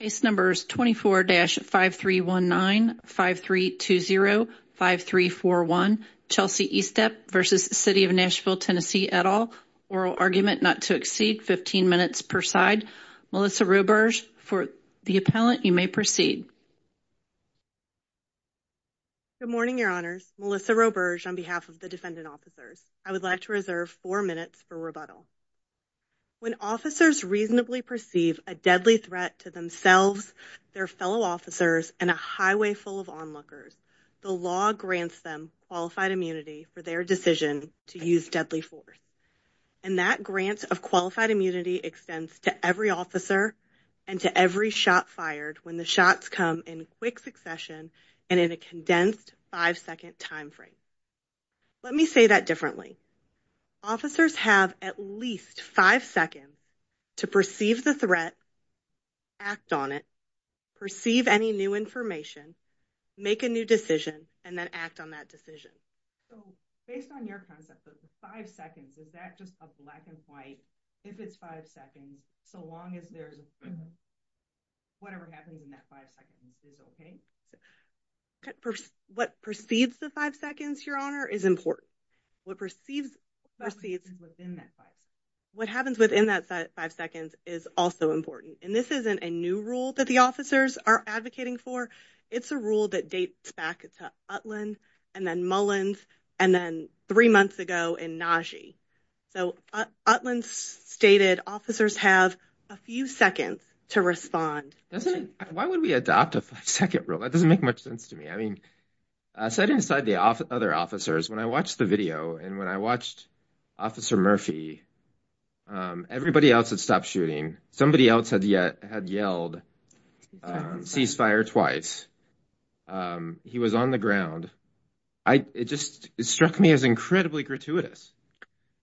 Case numbers 24-5319, 5320, 5341. Chelsy Eastep v. City of Nashville TN et al. Oral argument not to exceed 15 minutes per side. Melissa Roberge, for the appellant, you may proceed. Good morning, your honors. Melissa Roberge on behalf of the defendant officers. I would like to reserve four minutes for rebuttal. When officers reasonably perceive a deadly threat to themselves, their fellow officers, and a highway full of onlookers, the law grants them qualified immunity for their decision to use deadly force. And that grant of qualified immunity extends to every officer and to every shot fired when the shots come in quick succession and in a condensed five-second time frame. Let me say that differently. Officers have at least five seconds to perceive the threat, act on it, perceive any new information, make a new decision, and then act on that decision. So based on your concept of five seconds, is that just a black and white, if it's five seconds, so long as there's whatever happens in that five seconds is okay? What perceives the five seconds, your honor, is important. What perceives what happens within that five seconds is also important. And this isn't a new rule that the officers are advocating for. It's a rule that dates back to Utland and then Mullins and then three months ago in Najee. So Utland stated officers have a few seconds to respond. Why would we adopt a five-second rule? That doesn't make much sense to me. I mean, aside from the other officers, when I watched the video and when I watched Officer Murphy, everybody else had stopped shooting. Somebody else had yelled ceasefire twice. He was on the ground. It just struck me as incredibly gratuitous.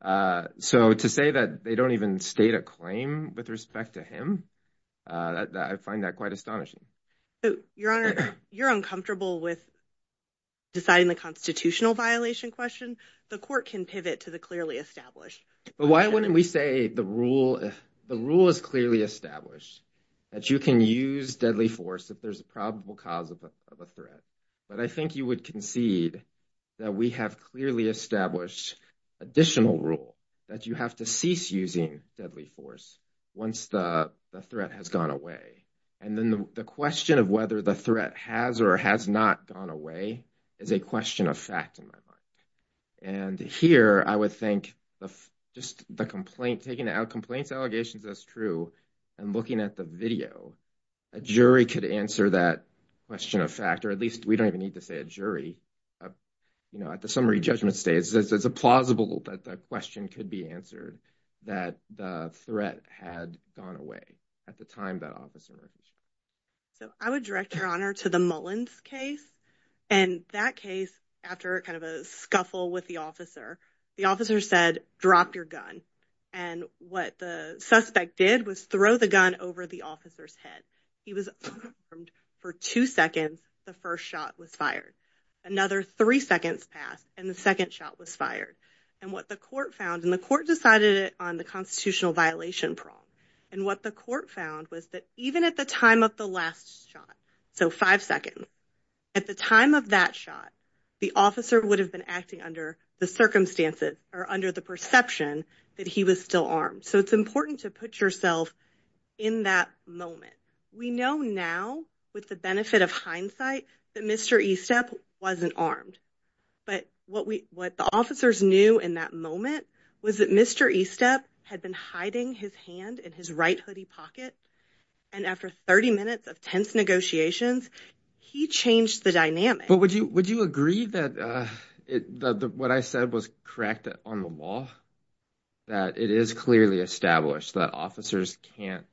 So to say that they don't even state a claim with respect to him, I find that quite astonishing. Your honor, you're uncomfortable with deciding the constitutional violation question. The court can pivot to the clearly established. But why wouldn't we say the rule is clearly established that you can use deadly force if there's a probable cause of a threat? But I think you would concede that we have clearly established additional rule that you have to cease using deadly force once the threat has gone away. And then the question of whether the threat has or has not gone away is a question of fact in my mind. And here I would think just the complaint, taking out complaints, allegations, that's true. And looking at the video, a jury could answer that question of fact, or at least we don't even need to say a jury. You know, at the summary judgment stage, it's plausible that the question could be answered that the threat had gone away at the time that officer. So I would direct your honor to the Mullins case and that case after kind of a scuffle with the officer, the officer said, drop your gun. And what the suspect did was throw the gun over the officer's head. He was armed for two seconds. The first shot was fired. Another three seconds passed and the second shot was fired. And what the court found in the court decided on the constitutional violation prong. And what the court found was that even at the time of the last shot. So five seconds at the time of that shot, the officer would have been acting under the circumstances or under the perception that he was still armed. So it's important to put yourself in that moment. We know now with the benefit of hindsight that Mr. Estep wasn't armed. But what we what the officers knew in that moment was that Mr. Estep had been hiding his hand in his right hoodie pocket. And after 30 minutes of tense negotiations, he changed the dynamic. But would you would you agree that what I said was correct on the law? That it is clearly established that officers can't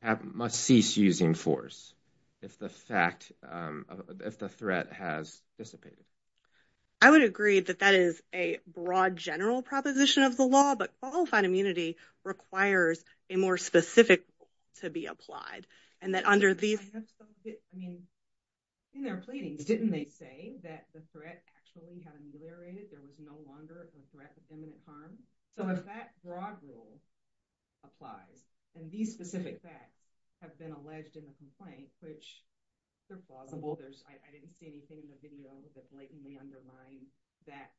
have must cease using force if the fact if the threat has dissipated. I would agree that that is a broad general proposition of the law, but qualified immunity requires a more specific to be applied. In their pleadings, didn't they say that the threat actually had ameliorated, there was no longer a threat of imminent harm? So if that broad rule applies and these specific facts have been alleged in the complaint, which they're plausible. I didn't see anything in the video that blatantly undermined that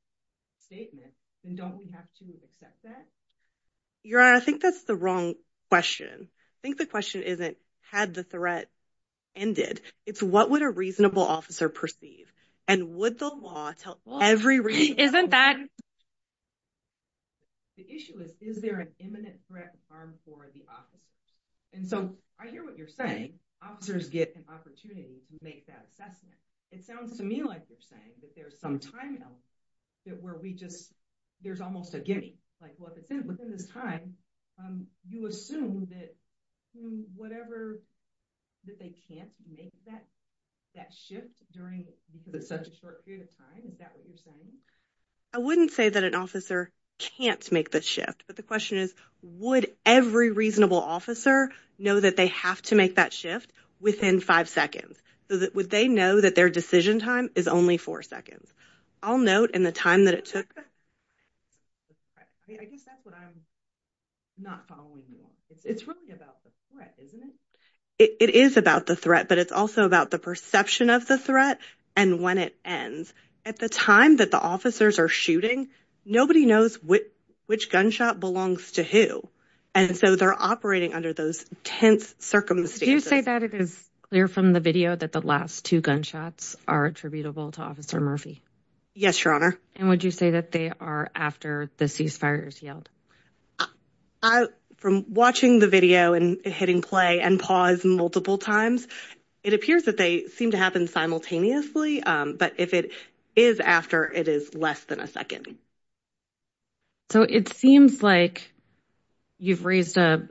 statement. Then don't we have to accept that? Your Honor, I think that's the wrong question. I think the question isn't had the threat ended. It's what would a reasonable officer perceive? And would the law tell every reason? Isn't that. The issue is, is there an imminent threat of harm for the officers? And so I hear what you're saying. Officers get an opportunity to make that assessment. It sounds to me like you're saying that there's some time where we just there's almost a guinea. Within this time, you assume that whatever that they can't make that that shift during such a short period of time. Is that what you're saying? I wouldn't say that an officer can't make the shift. But the question is, would every reasonable officer know that they have to make that shift within five seconds? Would they know that their decision time is only four seconds? I'll note in the time that it took. I guess that's what I'm not following. It's really about the threat, isn't it? It is about the threat, but it's also about the perception of the threat and when it ends. At the time that the officers are shooting, nobody knows which gunshot belongs to who. And so they're operating under those tense circumstances. Would you say that it is clear from the video that the last two gunshots are attributable to Officer Murphy? Yes, your honor. And would you say that they are after the ceasefires yelled from watching the video and hitting play and pause multiple times? It appears that they seem to happen simultaneously. But if it is after it is less than a second. So it seems like you've raised an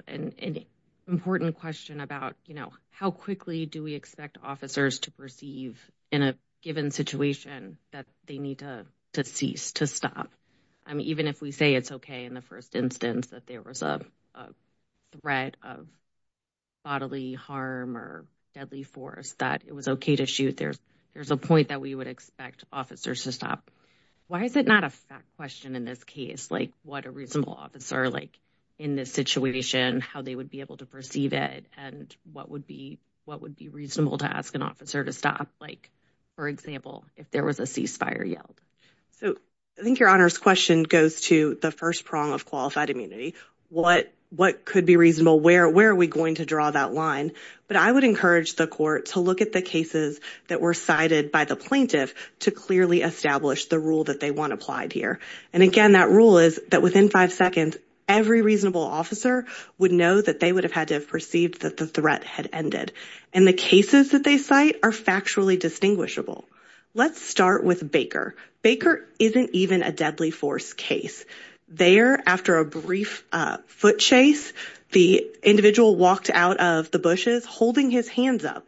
important question about, you know, how quickly do we expect officers to perceive in a given situation that they need to cease to stop? I mean, even if we say it's OK in the first instance that there was a threat of bodily harm or deadly force, that it was OK to shoot. There's there's a point that we would expect officers to stop. Why is it not a question in this case? Like what a reasonable officer like in this situation, how they would be able to perceive it and what would be what would be reasonable to ask an officer to stop? Like, for example, if there was a ceasefire yelled. So I think your honor's question goes to the first prong of qualified immunity. What what could be reasonable? Where where are we going to draw that line? But I would encourage the court to look at the cases that were cited by the plaintiff to clearly establish the rule that they want applied here. And again, that rule is that within five seconds, every reasonable officer would know that they would have had to have perceived that the threat had ended. And the cases that they cite are factually distinguishable. Let's start with Baker. Baker isn't even a deadly force case. There, after a brief foot chase, the individual walked out of the bushes holding his hands up.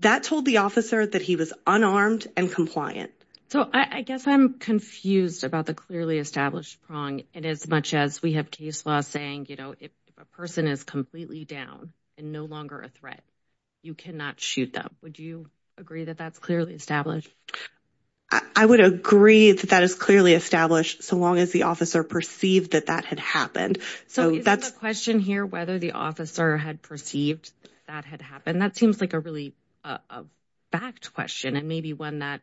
That told the officer that he was unarmed and compliant. So I guess I'm confused about the clearly established prong. And as much as we have case law saying, you know, if a person is completely down and no longer a threat, you cannot shoot them. Would you agree that that's clearly established? I would agree that that is clearly established so long as the officer perceived that that had happened. So that's a question here, whether the officer had perceived that had happened. That seems like a really a fact question and maybe one that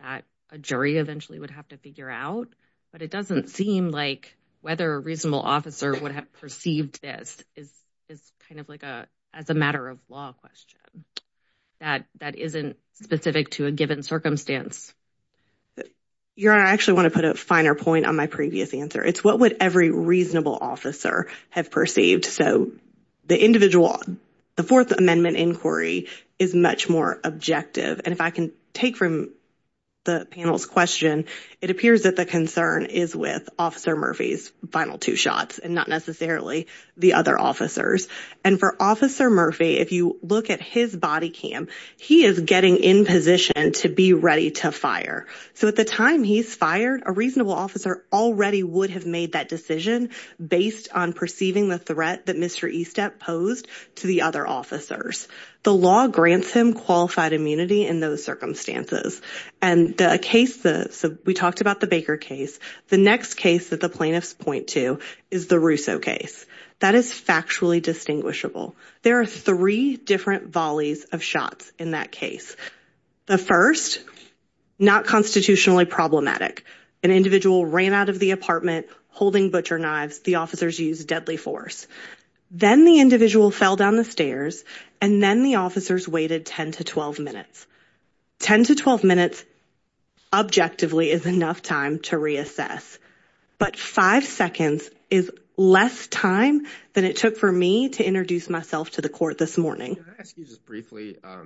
that a jury eventually would have to figure out. But it doesn't seem like whether a reasonable officer would have perceived this is is kind of like a as a matter of law question. That that isn't specific to a given circumstance. Your Honor, I actually want to put a finer point on my previous answer. It's what would every reasonable officer have perceived? So the individual, the Fourth Amendment inquiry is much more objective. And if I can take from the panel's question, it appears that the concern is with Officer Murphy's final two shots and not necessarily the other officers. And for Officer Murphy, if you look at his body cam, he is getting in position to be ready to fire. So at the time he's fired, a reasonable officer already would have made that decision based on perceiving the threat that Mr. Estep posed to the other officers. The law grants him qualified immunity in those circumstances. And the case that we talked about, the Baker case, the next case that the plaintiffs point to is the Russo case. That is factually distinguishable. There are three different volleys of shots in that case. The first not constitutionally problematic. An individual ran out of the apartment holding butcher knives. The officers used deadly force. Then the individual fell down the stairs and then the officers waited 10 to 12 minutes. 10 to 12 minutes, objectively, is enough time to reassess. But five seconds is less time than it took for me to introduce myself to the court this morning. Can I ask you just briefly? I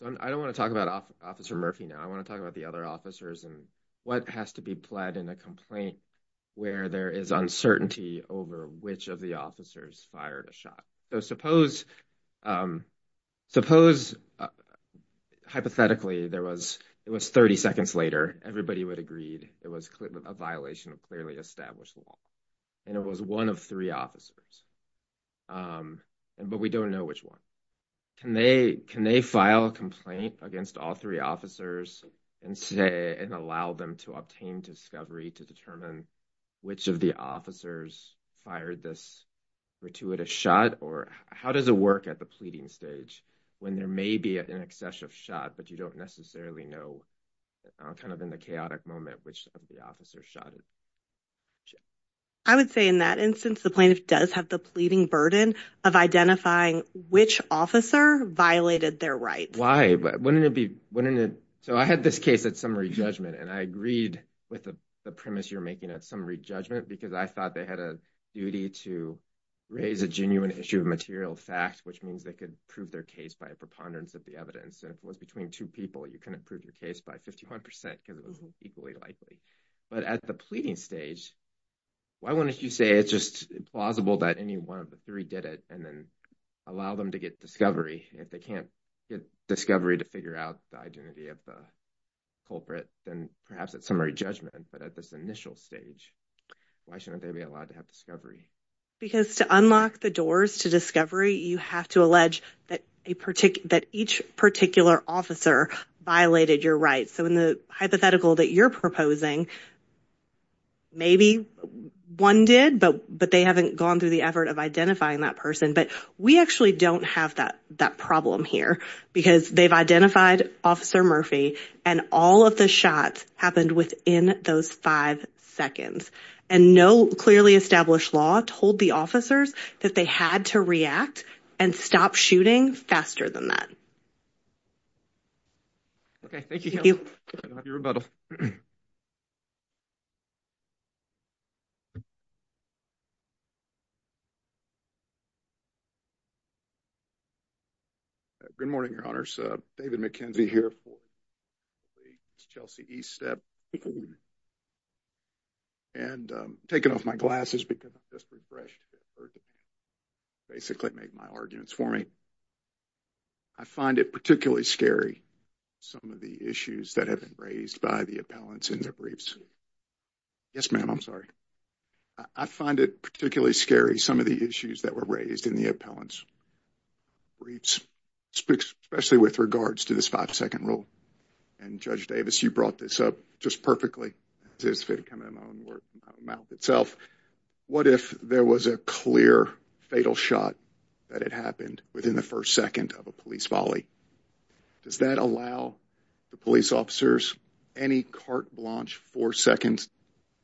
don't want to talk about Officer Murphy now. I want to talk about the other officers and what has to be pled in a complaint where there is uncertainty over which of the officers fired a shot. So suppose hypothetically it was 30 seconds later, everybody would have agreed it was a violation of clearly established law. And it was one of three officers. But we don't know which one. Can they file a complaint against all three officers and allow them to obtain discovery to determine which of the officers fired this gratuitous shot? Or how does it work at the pleading stage when there may be an excessive shot, but you don't necessarily know kind of in the chaotic moment which of the officers shot it? I would say in that instance, the plaintiff does have the pleading burden of identifying which officer violated their rights. Wouldn't it be, wouldn't it? So I had this case at summary judgment and I agreed with the premise you're making at summary judgment because I thought they had a duty to raise a genuine issue of material fact, which means they could prove their case by a preponderance of the evidence. And if it was between two people, you couldn't prove your case by 51% because it wasn't equally likely. But at the pleading stage, why wouldn't you say it's just plausible that any one of the three did it and then allow them to get discovery? If they can't get discovery to figure out the identity of the culprit, then perhaps it's summary judgment. But at this initial stage, why shouldn't they be allowed to have discovery? Because to unlock the doors to discovery, you have to allege that each particular officer violated your rights. So in the hypothetical that you're proposing, maybe one did, but they haven't gone through the effort of identifying that person. But we actually don't have that problem here because they've identified Officer Murphy and all of the shots happened within those five seconds. And no clearly established law told the officers that they had to react and stop shooting faster than that. Okay, thank you. Good morning, Your Honors. David McKenzie here for Chelsea East Step. And I'm taking off my glasses because I'm just refreshed. Basically make my arguments for me. I find it particularly scary some of the issues that have been raised by the appellants in their briefs. Yes, ma'am, I'm sorry. I find it particularly scary some of the issues that were raised in the appellants' briefs, especially with regards to this five-second rule. And Judge Davis, you brought this up just perfectly. What if there was a clear fatal shot that had happened within the first second of a police volley? Does that allow the police officers any carte blanche four seconds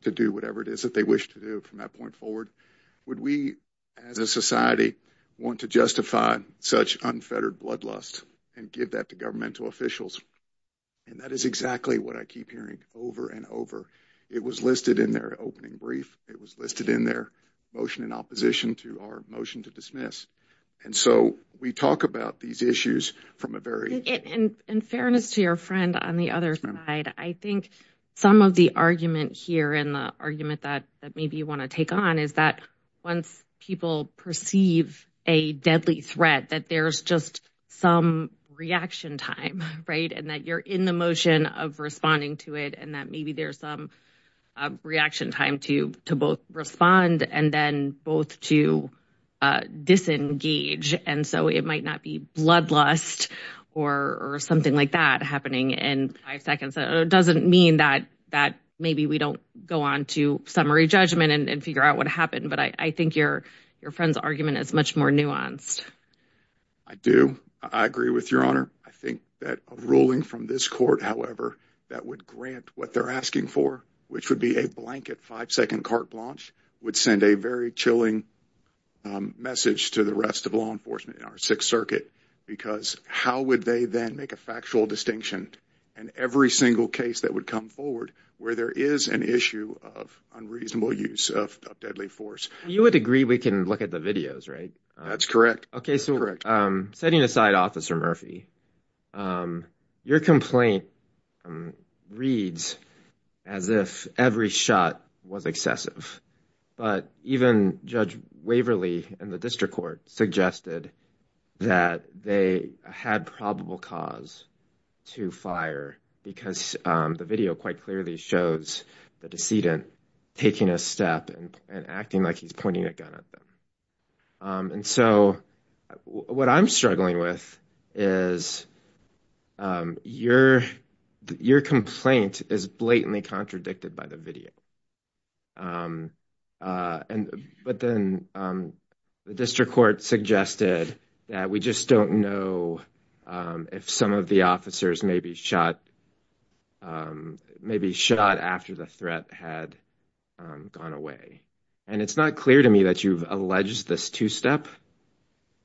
to do whatever it is that they wish to do from that point forward? Would we as a society want to justify such unfettered bloodlust and give that to governmental officials? And that is exactly what I keep hearing over and over. It was listed in their opening brief. It was listed in their motion in opposition to our motion to dismiss. And so we talk about these issues from a very— In fairness to your friend on the other side, I think some of the argument here and the argument that maybe you want to take on is that once people perceive a deadly threat, that there's just some reaction time. And that you're in the motion of responding to it. And that maybe there's some reaction time to both respond and then both to disengage. And so it might not be bloodlust or something like that happening in five seconds. It doesn't mean that maybe we don't go on to summary judgment and figure out what happened. But I think your friend's argument is much more nuanced. I do. I agree with Your Honor. I think that a ruling from this court, however, that would grant what they're asking for, which would be a blanket five-second carte blanche, would send a very chilling message to the rest of law enforcement in our Sixth Circuit. Because how would they then make a factual distinction in every single case that would come forward where there is an issue of unreasonable use of deadly force? You would agree we can look at the videos, right? That's correct. Setting aside Officer Murphy, your complaint reads as if every shot was excessive. But even Judge Waverly in the district court suggested that they had probable cause to fire. Because the video quite clearly shows the decedent taking a step and acting like he's pointing a gun at them. And so what I'm struggling with is your complaint is blatantly contradicted by the video. But then the district court suggested that we just don't know if some of the officers may be shot after the threat had gone away. And it's not clear to me that you've alleged this two-step.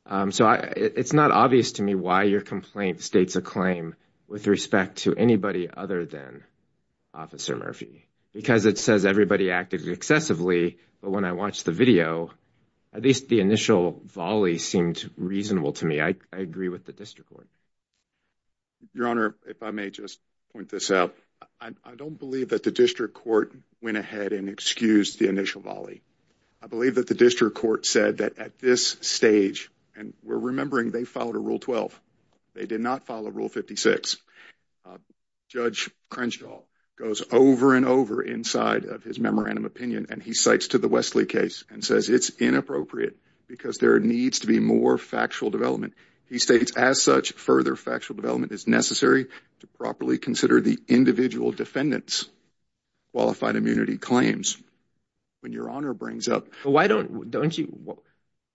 So it's not obvious to me why your complaint states a claim with respect to anybody other than Officer Murphy. Because it says everybody acted excessively, but when I watched the video, at least the initial volley seemed reasonable to me. I agree with the district court. Your Honor, if I may just point this out. I don't believe that the district court went ahead and excused the initial volley. I believe that the district court said that at this stage, and we're remembering they followed a Rule 12. They did not follow Rule 56. Judge Crenshaw goes over and over inside of his memorandum opinion and he cites to the Wesley case and says it's inappropriate. Because there needs to be more factual development. He states, as such, further factual development is necessary to properly consider the individual defendant's qualified immunity claims. When your Honor brings up... Why don't you...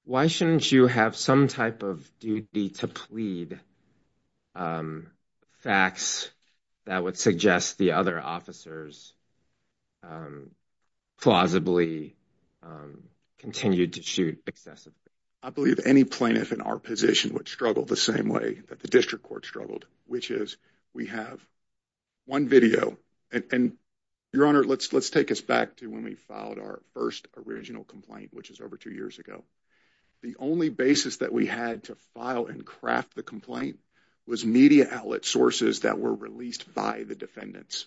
Why shouldn't you have some type of duty to plead facts that would suggest the other officers plausibly continued to shoot excessively? I believe any plaintiff in our position would struggle the same way that the district court struggled, which is we have one video. And your Honor, let's take us back to when we filed our first original complaint, which is over two years ago. The only basis that we had to file and craft the complaint was media outlet sources that were released by the defendants.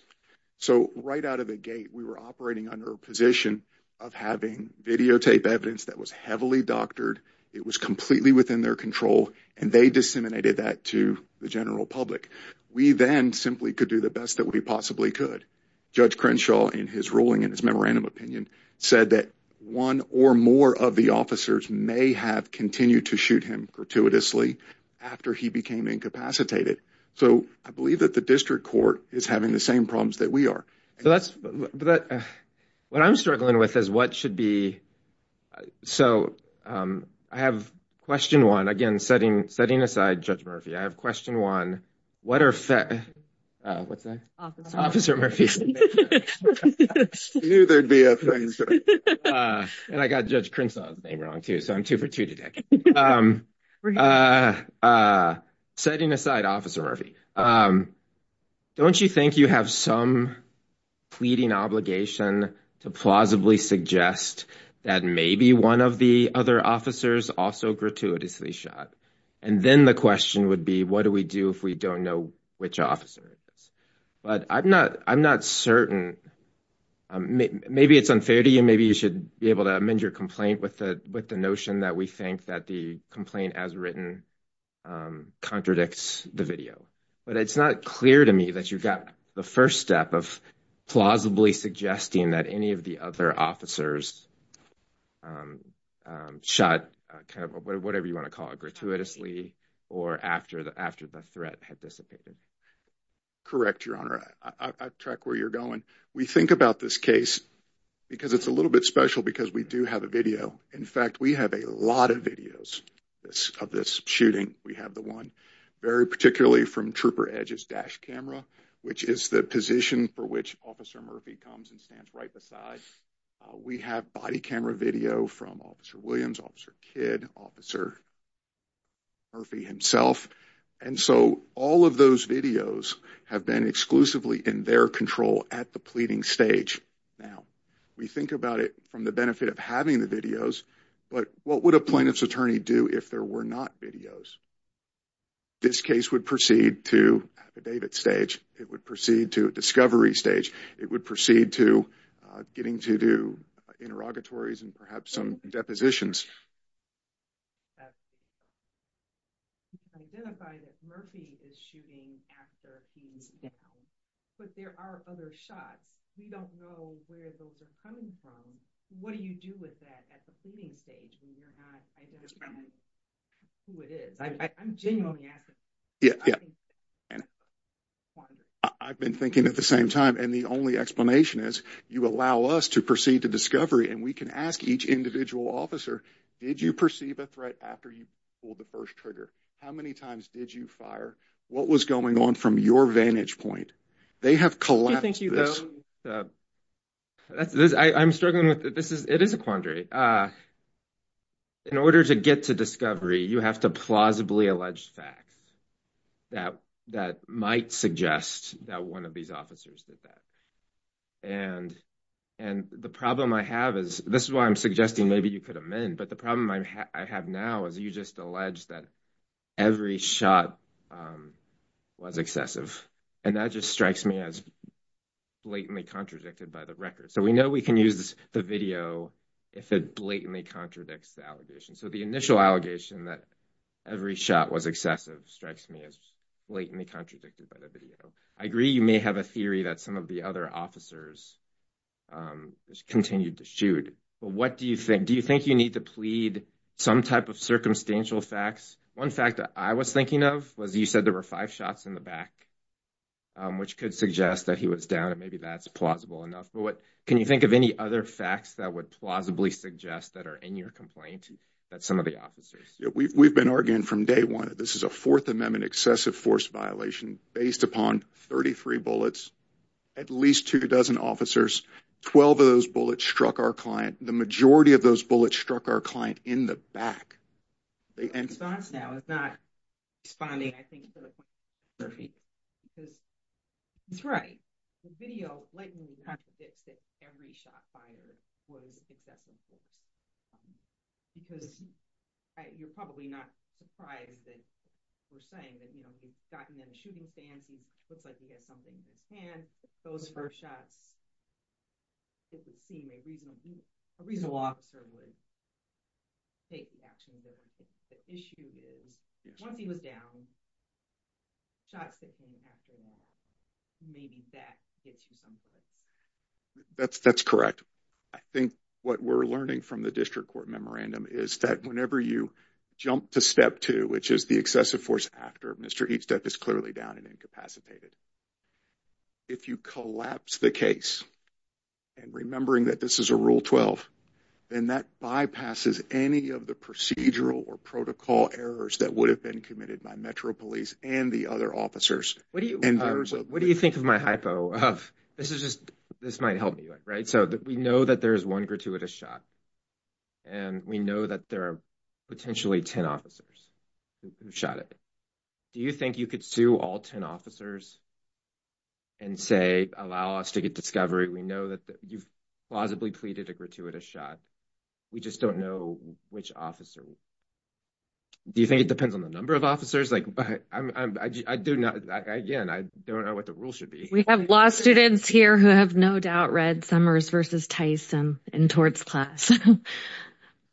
So right out of the gate, we were operating under a position of having videotape evidence that was heavily doctored. It was completely within their control, and they disseminated that to the general public. We then simply could do the best that we possibly could. Judge Crenshaw, in his ruling in his memorandum opinion, said that one or more of the officers may have continued to shoot him gratuitously after he became incapacitated. So I believe that the district court is having the same problems that we are. So that's... What I'm struggling with is what should be... So I have question one. Again, setting aside Judge Murphy, I have question one. What are... What's that? Officer Murphy. I knew there'd be a thing. And I got Judge Crenshaw's name wrong, too, so I'm two for two today. Setting aside Officer Murphy, don't you think you have some pleading obligation to plausibly suggest that maybe one of the other officers also gratuitously shot? And then the question would be, what do we do if we don't know which officer it is? But I'm not certain. Maybe it's unfair to you. Maybe you should be able to amend your complaint with the notion that we think that the complaint as written contradicts the video. But it's not clear to me that you got the first step of plausibly suggesting that any of the other officers shot, whatever you want to call it, gratuitously or after the threat had dissipated. Correct, Your Honor. I track where you're going. We think about this case because it's a little bit special because we do have a video. In fact, we have a lot of videos of this shooting. We have the one very particularly from Trooper Edge's dash camera, which is the position for which Officer Murphy comes and stands right beside. We have body camera video from Officer Williams, Officer Kidd, Officer Murphy himself. And so all of those videos have been exclusively in their control at the pleading stage. Now, we think about it from the benefit of having the videos, but what would a plaintiff's attorney do if there were not videos? This case would proceed to a David stage. It would proceed to a discovery stage. It would proceed to getting to do interrogatories and perhaps some depositions. I identify that Murphy is shooting after he's down, but there are other shots. We don't know where those are coming from. What do you do with that at the pleading stage when you're not identifying who it is? I'm genuinely asking. I've been thinking at the same time, and the only explanation is you allow us to proceed to discovery, and we can ask each individual officer, did you perceive a threat after you pulled the first trigger? How many times did you fire? What was going on from your vantage point? They have collapsed this. I'm struggling with this. It is a quandary. In order to get to discovery, you have to plausibly allege facts that might suggest that one of these officers did that. The problem I have is, this is why I'm suggesting maybe you could amend, but the problem I have now is you just allege that every shot was excessive. That just strikes me as blatantly contradicted by the record. We know we can use the video if it blatantly contradicts the allegation. The initial allegation that every shot was excessive strikes me as blatantly contradicted by the video. I agree you may have a theory that some of the other officers continued to shoot, but what do you think? Do you think you need to plead some type of circumstantial facts? One fact that I was thinking of was you said there were five shots in the back, which could suggest that he was down, and maybe that's plausible enough. Can you think of any other facts that would plausibly suggest that are in your complaint that some of the officers? We've been arguing from day one that this is a Fourth Amendment excessive force violation based upon 33 bullets, at least two dozen officers. Twelve of those bullets struck our client. The majority of those bullets struck our client in the back. The response now is not responding, I think, to the point you're making, because he's right. The video blatantly contradicts that every shot fired was excessive. Because you're probably not surprised that we're saying that, you know, we've gotten him in a shooting stance. He looks like he has something in his hand. Those first shots, if it seemed a reasonable officer would take the action. The issue is, once he was down, shots hit him after that. Maybe that gets you some points. That's correct. I think what we're learning from the district court memorandum is that whenever you jump to step two, which is the excessive force after Mr. Eastep is clearly down and incapacitated, if you collapse the case, and remembering that this is a Rule 12, then that bypasses any of the procedural or protocol errors that would have been committed by Metro Police and the other officers. What do you think of my hypo? This might help me, right? So we know that there is one gratuitous shot. And we know that there are potentially ten officers who shot it. Do you think you could sue all ten officers and say, allow us to get discovery? We know that you've plausibly pleaded a gratuitous shot. We just don't know which officer. Do you think it depends on the number of officers? Like, I do not. Again, I don't know what the rule should be. We have law students here who have no doubt read Summers versus Tyson in torts class.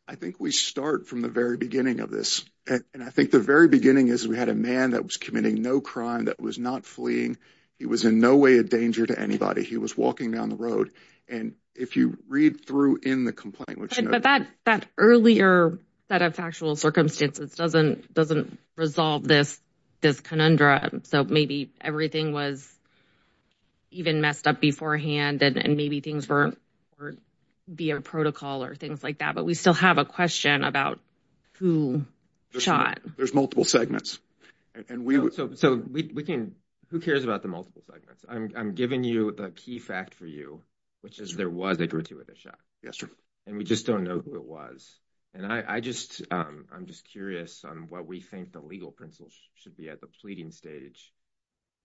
I think we start from the very beginning of this. And I think the very beginning is we had a man that was committing no crime, that was not fleeing. He was in no way a danger to anybody. He was walking down the road. And if you read through in the complaint. But that earlier set of factual circumstances doesn't resolve this conundrum. So maybe everything was even messed up beforehand, and maybe things were via protocol or things like that. But we still have a question about who shot. There's multiple segments. So who cares about the multiple segments? I'm giving you the key fact for you, which is there was a gratuitous shot. And we just don't know who it was. And I'm just curious on what we think the legal principles should be at the pleading stage.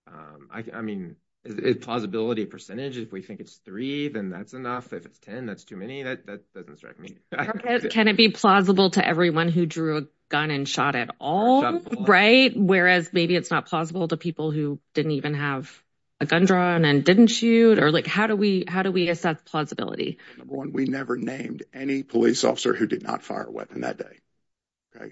I mean, is it plausibility percentage? If we think it's three, then that's enough. If it's 10, that's too many. That doesn't strike me. Can it be plausible to everyone who drew a gun and shot at all? Right. Whereas maybe it's not plausible to people who didn't even have a gun drawn and didn't shoot. Or like, how do we how do we assess plausibility? We never named any police officer who did not fire a weapon that day.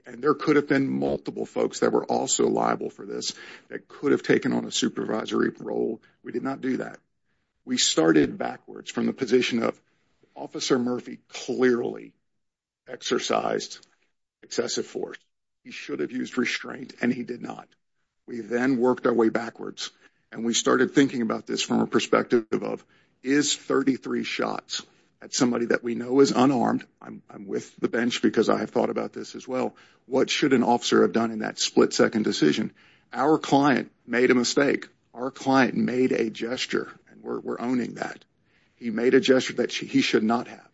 And there could have been multiple folks that were also liable for this that could have taken on a supervisory role. We did not do that. We started backwards from the position of Officer Murphy clearly exercised excessive force. He should have used restraint and he did not. We then worked our way backwards. And we started thinking about this from a perspective of is 33 shots at somebody that we know is unarmed. I'm with the bench because I have thought about this as well. What should an officer have done in that split second decision? Our client made a mistake. Our client made a gesture. And we're owning that. He made a gesture that he should not have.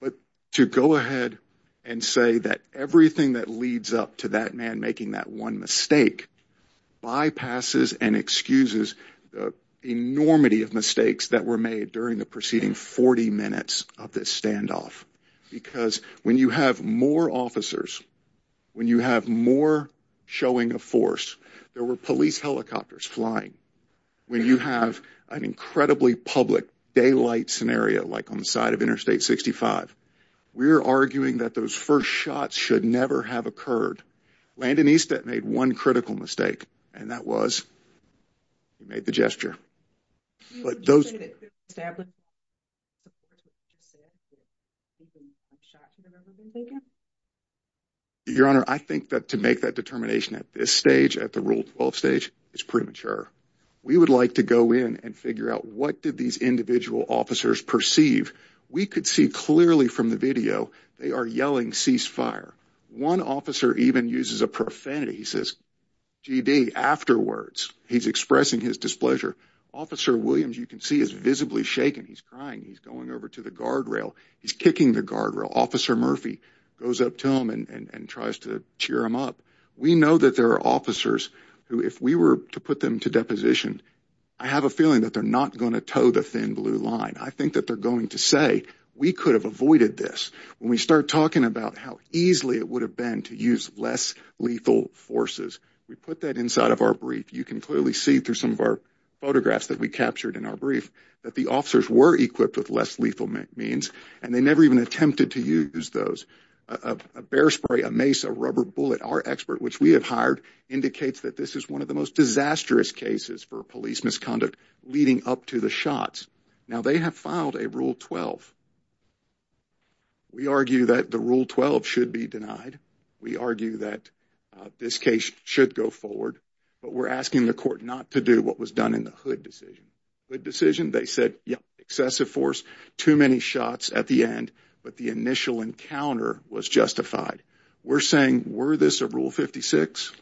But to go ahead and say that everything that leads up to that man making that one mistake bypasses and excuses the enormity of mistakes that were made during the preceding 40 minutes of this standoff. Because when you have more officers, when you have more showing of force, there were police helicopters flying. When you have an incredibly public daylight scenario like on the side of Interstate 65, we're arguing that those first shots should never have occurred. Landon Eastet made one critical mistake and that was he made the gesture. But those... Your Honor, I think that to make that determination at this stage, at the Rule 12 stage, is premature. We would like to go in and figure out what did these individual officers perceive. We could see clearly from the video they are yelling cease fire. One officer even uses a profanity. He says, GD, afterwards, he's expressing his displeasure. Officer Williams, you can see, is visibly shaken. He's crying. He's going over to the guardrail. He's kicking the guardrail. Officer Murphy goes up to him and tries to cheer him up. We know that there are officers who, if we were to put them to deposition, I have a feeling that they're not going to toe the thin blue line. I think that they're going to say, we could have avoided this. When we start talking about how easily it would have been to use less lethal forces, we put that inside of our brief. You can clearly see through some of our photographs that we captured in our brief that the officers were equipped with less lethal means and they never even attempted to use those. A bear spray, a mace, a rubber bullet, our expert, which we have hired, indicates that this is one of the most disastrous cases for police misconduct leading up to the shots. Now, they have filed a Rule 12. We argue that the Rule 12 should be denied. We argue that this case should go forward, but we're asking the court not to do what was done in the Hood decision. Hood decision, they said, yeah, excessive force, too many shots at the end, but the initial encounter was justified. We're saying, were this a Rule 56?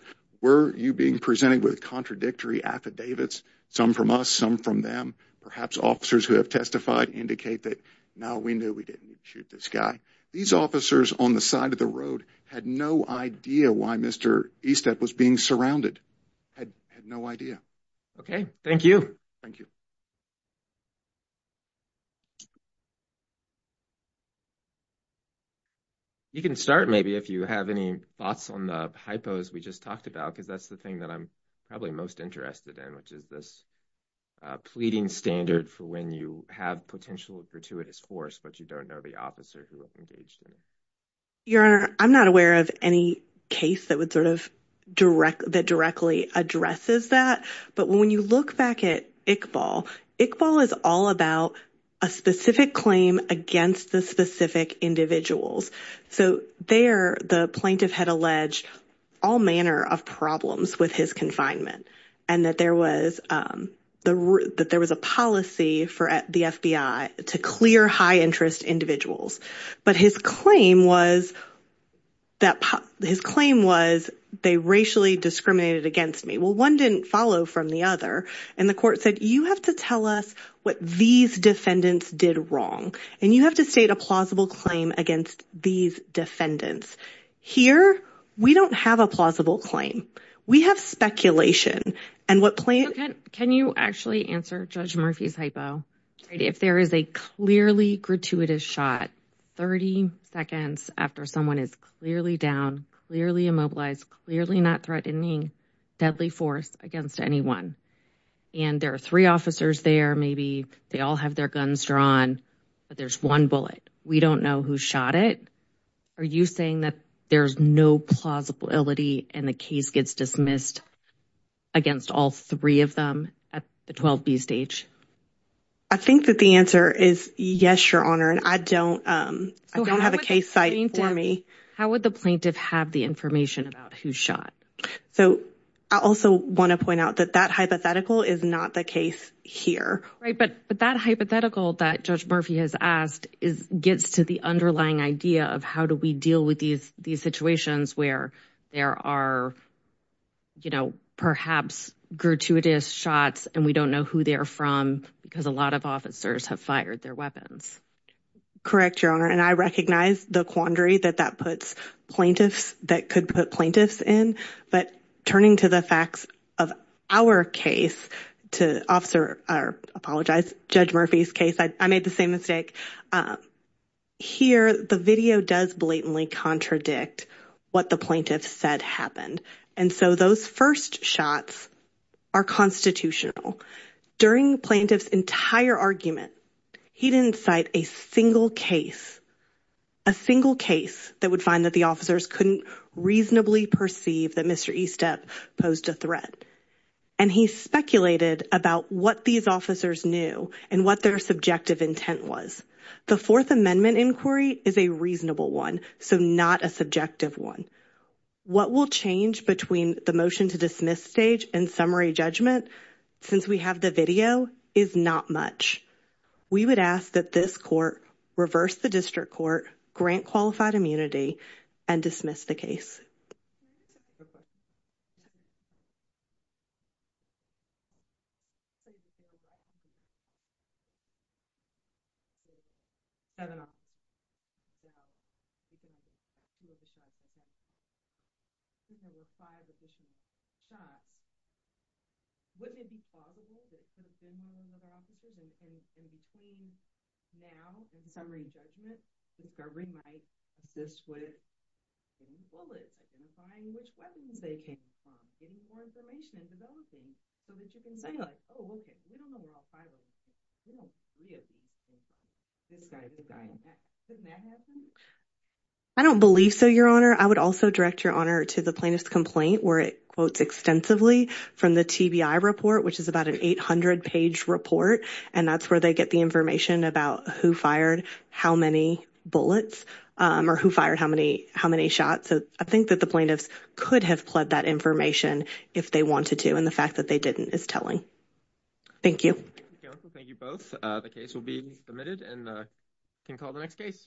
Were you being presented with contradictory affidavits, some from us, some from them? Perhaps officers who have testified indicate that, no, we knew we didn't need to shoot this guy. These officers on the side of the road had no idea why Mr. Estep was being surrounded, had no idea. Okay, thank you. Thank you. You can start, maybe, if you have any thoughts on the hypos we just talked about, because that's the thing that I'm probably most interested in, which is this pleading standard for when you have potential gratuitous force, but you don't know the officer who engaged in it. Your Honor, I'm not aware of any case that directly addresses that. But when you look back at Iqbal, Iqbal is all about a specific claim against the specific individuals. So there, the plaintiff had alleged all manner of problems with his confinement and that there was a policy for the FBI to clear high-interest individuals. But his claim was they racially discriminated against me. Well, one didn't follow from the other. And the court said, you have to tell us what these defendants did wrong, and you have to state a plausible claim against these defendants. Here, we don't have a plausible claim. We have speculation. Can you actually answer Judge Murphy's hypo? If there is a clearly gratuitous shot 30 seconds after someone is clearly down, clearly immobilized, clearly not threatening, deadly force against anyone, and there are three officers there, maybe they all have their guns drawn, but there's one bullet. We don't know who shot it. Are you saying that there's no plausibility and the case gets dismissed against all three of them at the 12B stage? I think that the answer is yes, Your Honor, and I don't have a case site for me. How would the plaintiff have the information about who shot? So I also want to point out that that hypothetical is not the case here. Right, but that hypothetical that Judge Murphy has asked gets to the underlying idea of how do we deal with these situations where there are, you know, perhaps gratuitous shots and we don't know who they're from because a lot of officers have fired their weapons. Correct, Your Honor, and I recognize the quandary that that puts plaintiffs that could put plaintiffs in. But turning to the facts of our case to officer or apologize, Judge Murphy's case, I made the same mistake here. The video does blatantly contradict what the plaintiff said happened. And so those first shots are constitutional. During plaintiff's entire argument, he didn't cite a single case, a single case that would find that the officers couldn't reasonably perceive that Mr. Estep posed a threat. And he speculated about what these officers knew and what their subjective intent was. The Fourth Amendment inquiry is a reasonable one, so not a subjective one. What will change between the motion to dismiss stage and summary judgment since we have the video is not much. We would ask that this court reverse the district court grant qualified immunity and dismiss the case. We have five additional shots. Wouldn't it be plausible that in between now and summary judgment, the discovery might exist with bullets, identifying which weapons they came from, getting more information and developing so that you can say, oh, OK, we don't know who our pilot is. We don't see it. This guy, this guy, couldn't that happen? I don't believe so, Your Honor. I would also direct your honor to the plaintiff's complaint where it quotes extensively from the TBI report, which is about an 800 page report. And that's where they get the information about who fired how many bullets or who fired how many how many shots. So I think that the plaintiffs could have pled that information if they wanted to. And the fact that they didn't is telling. Thank you. Thank you both. The case will be admitted and can call the next case.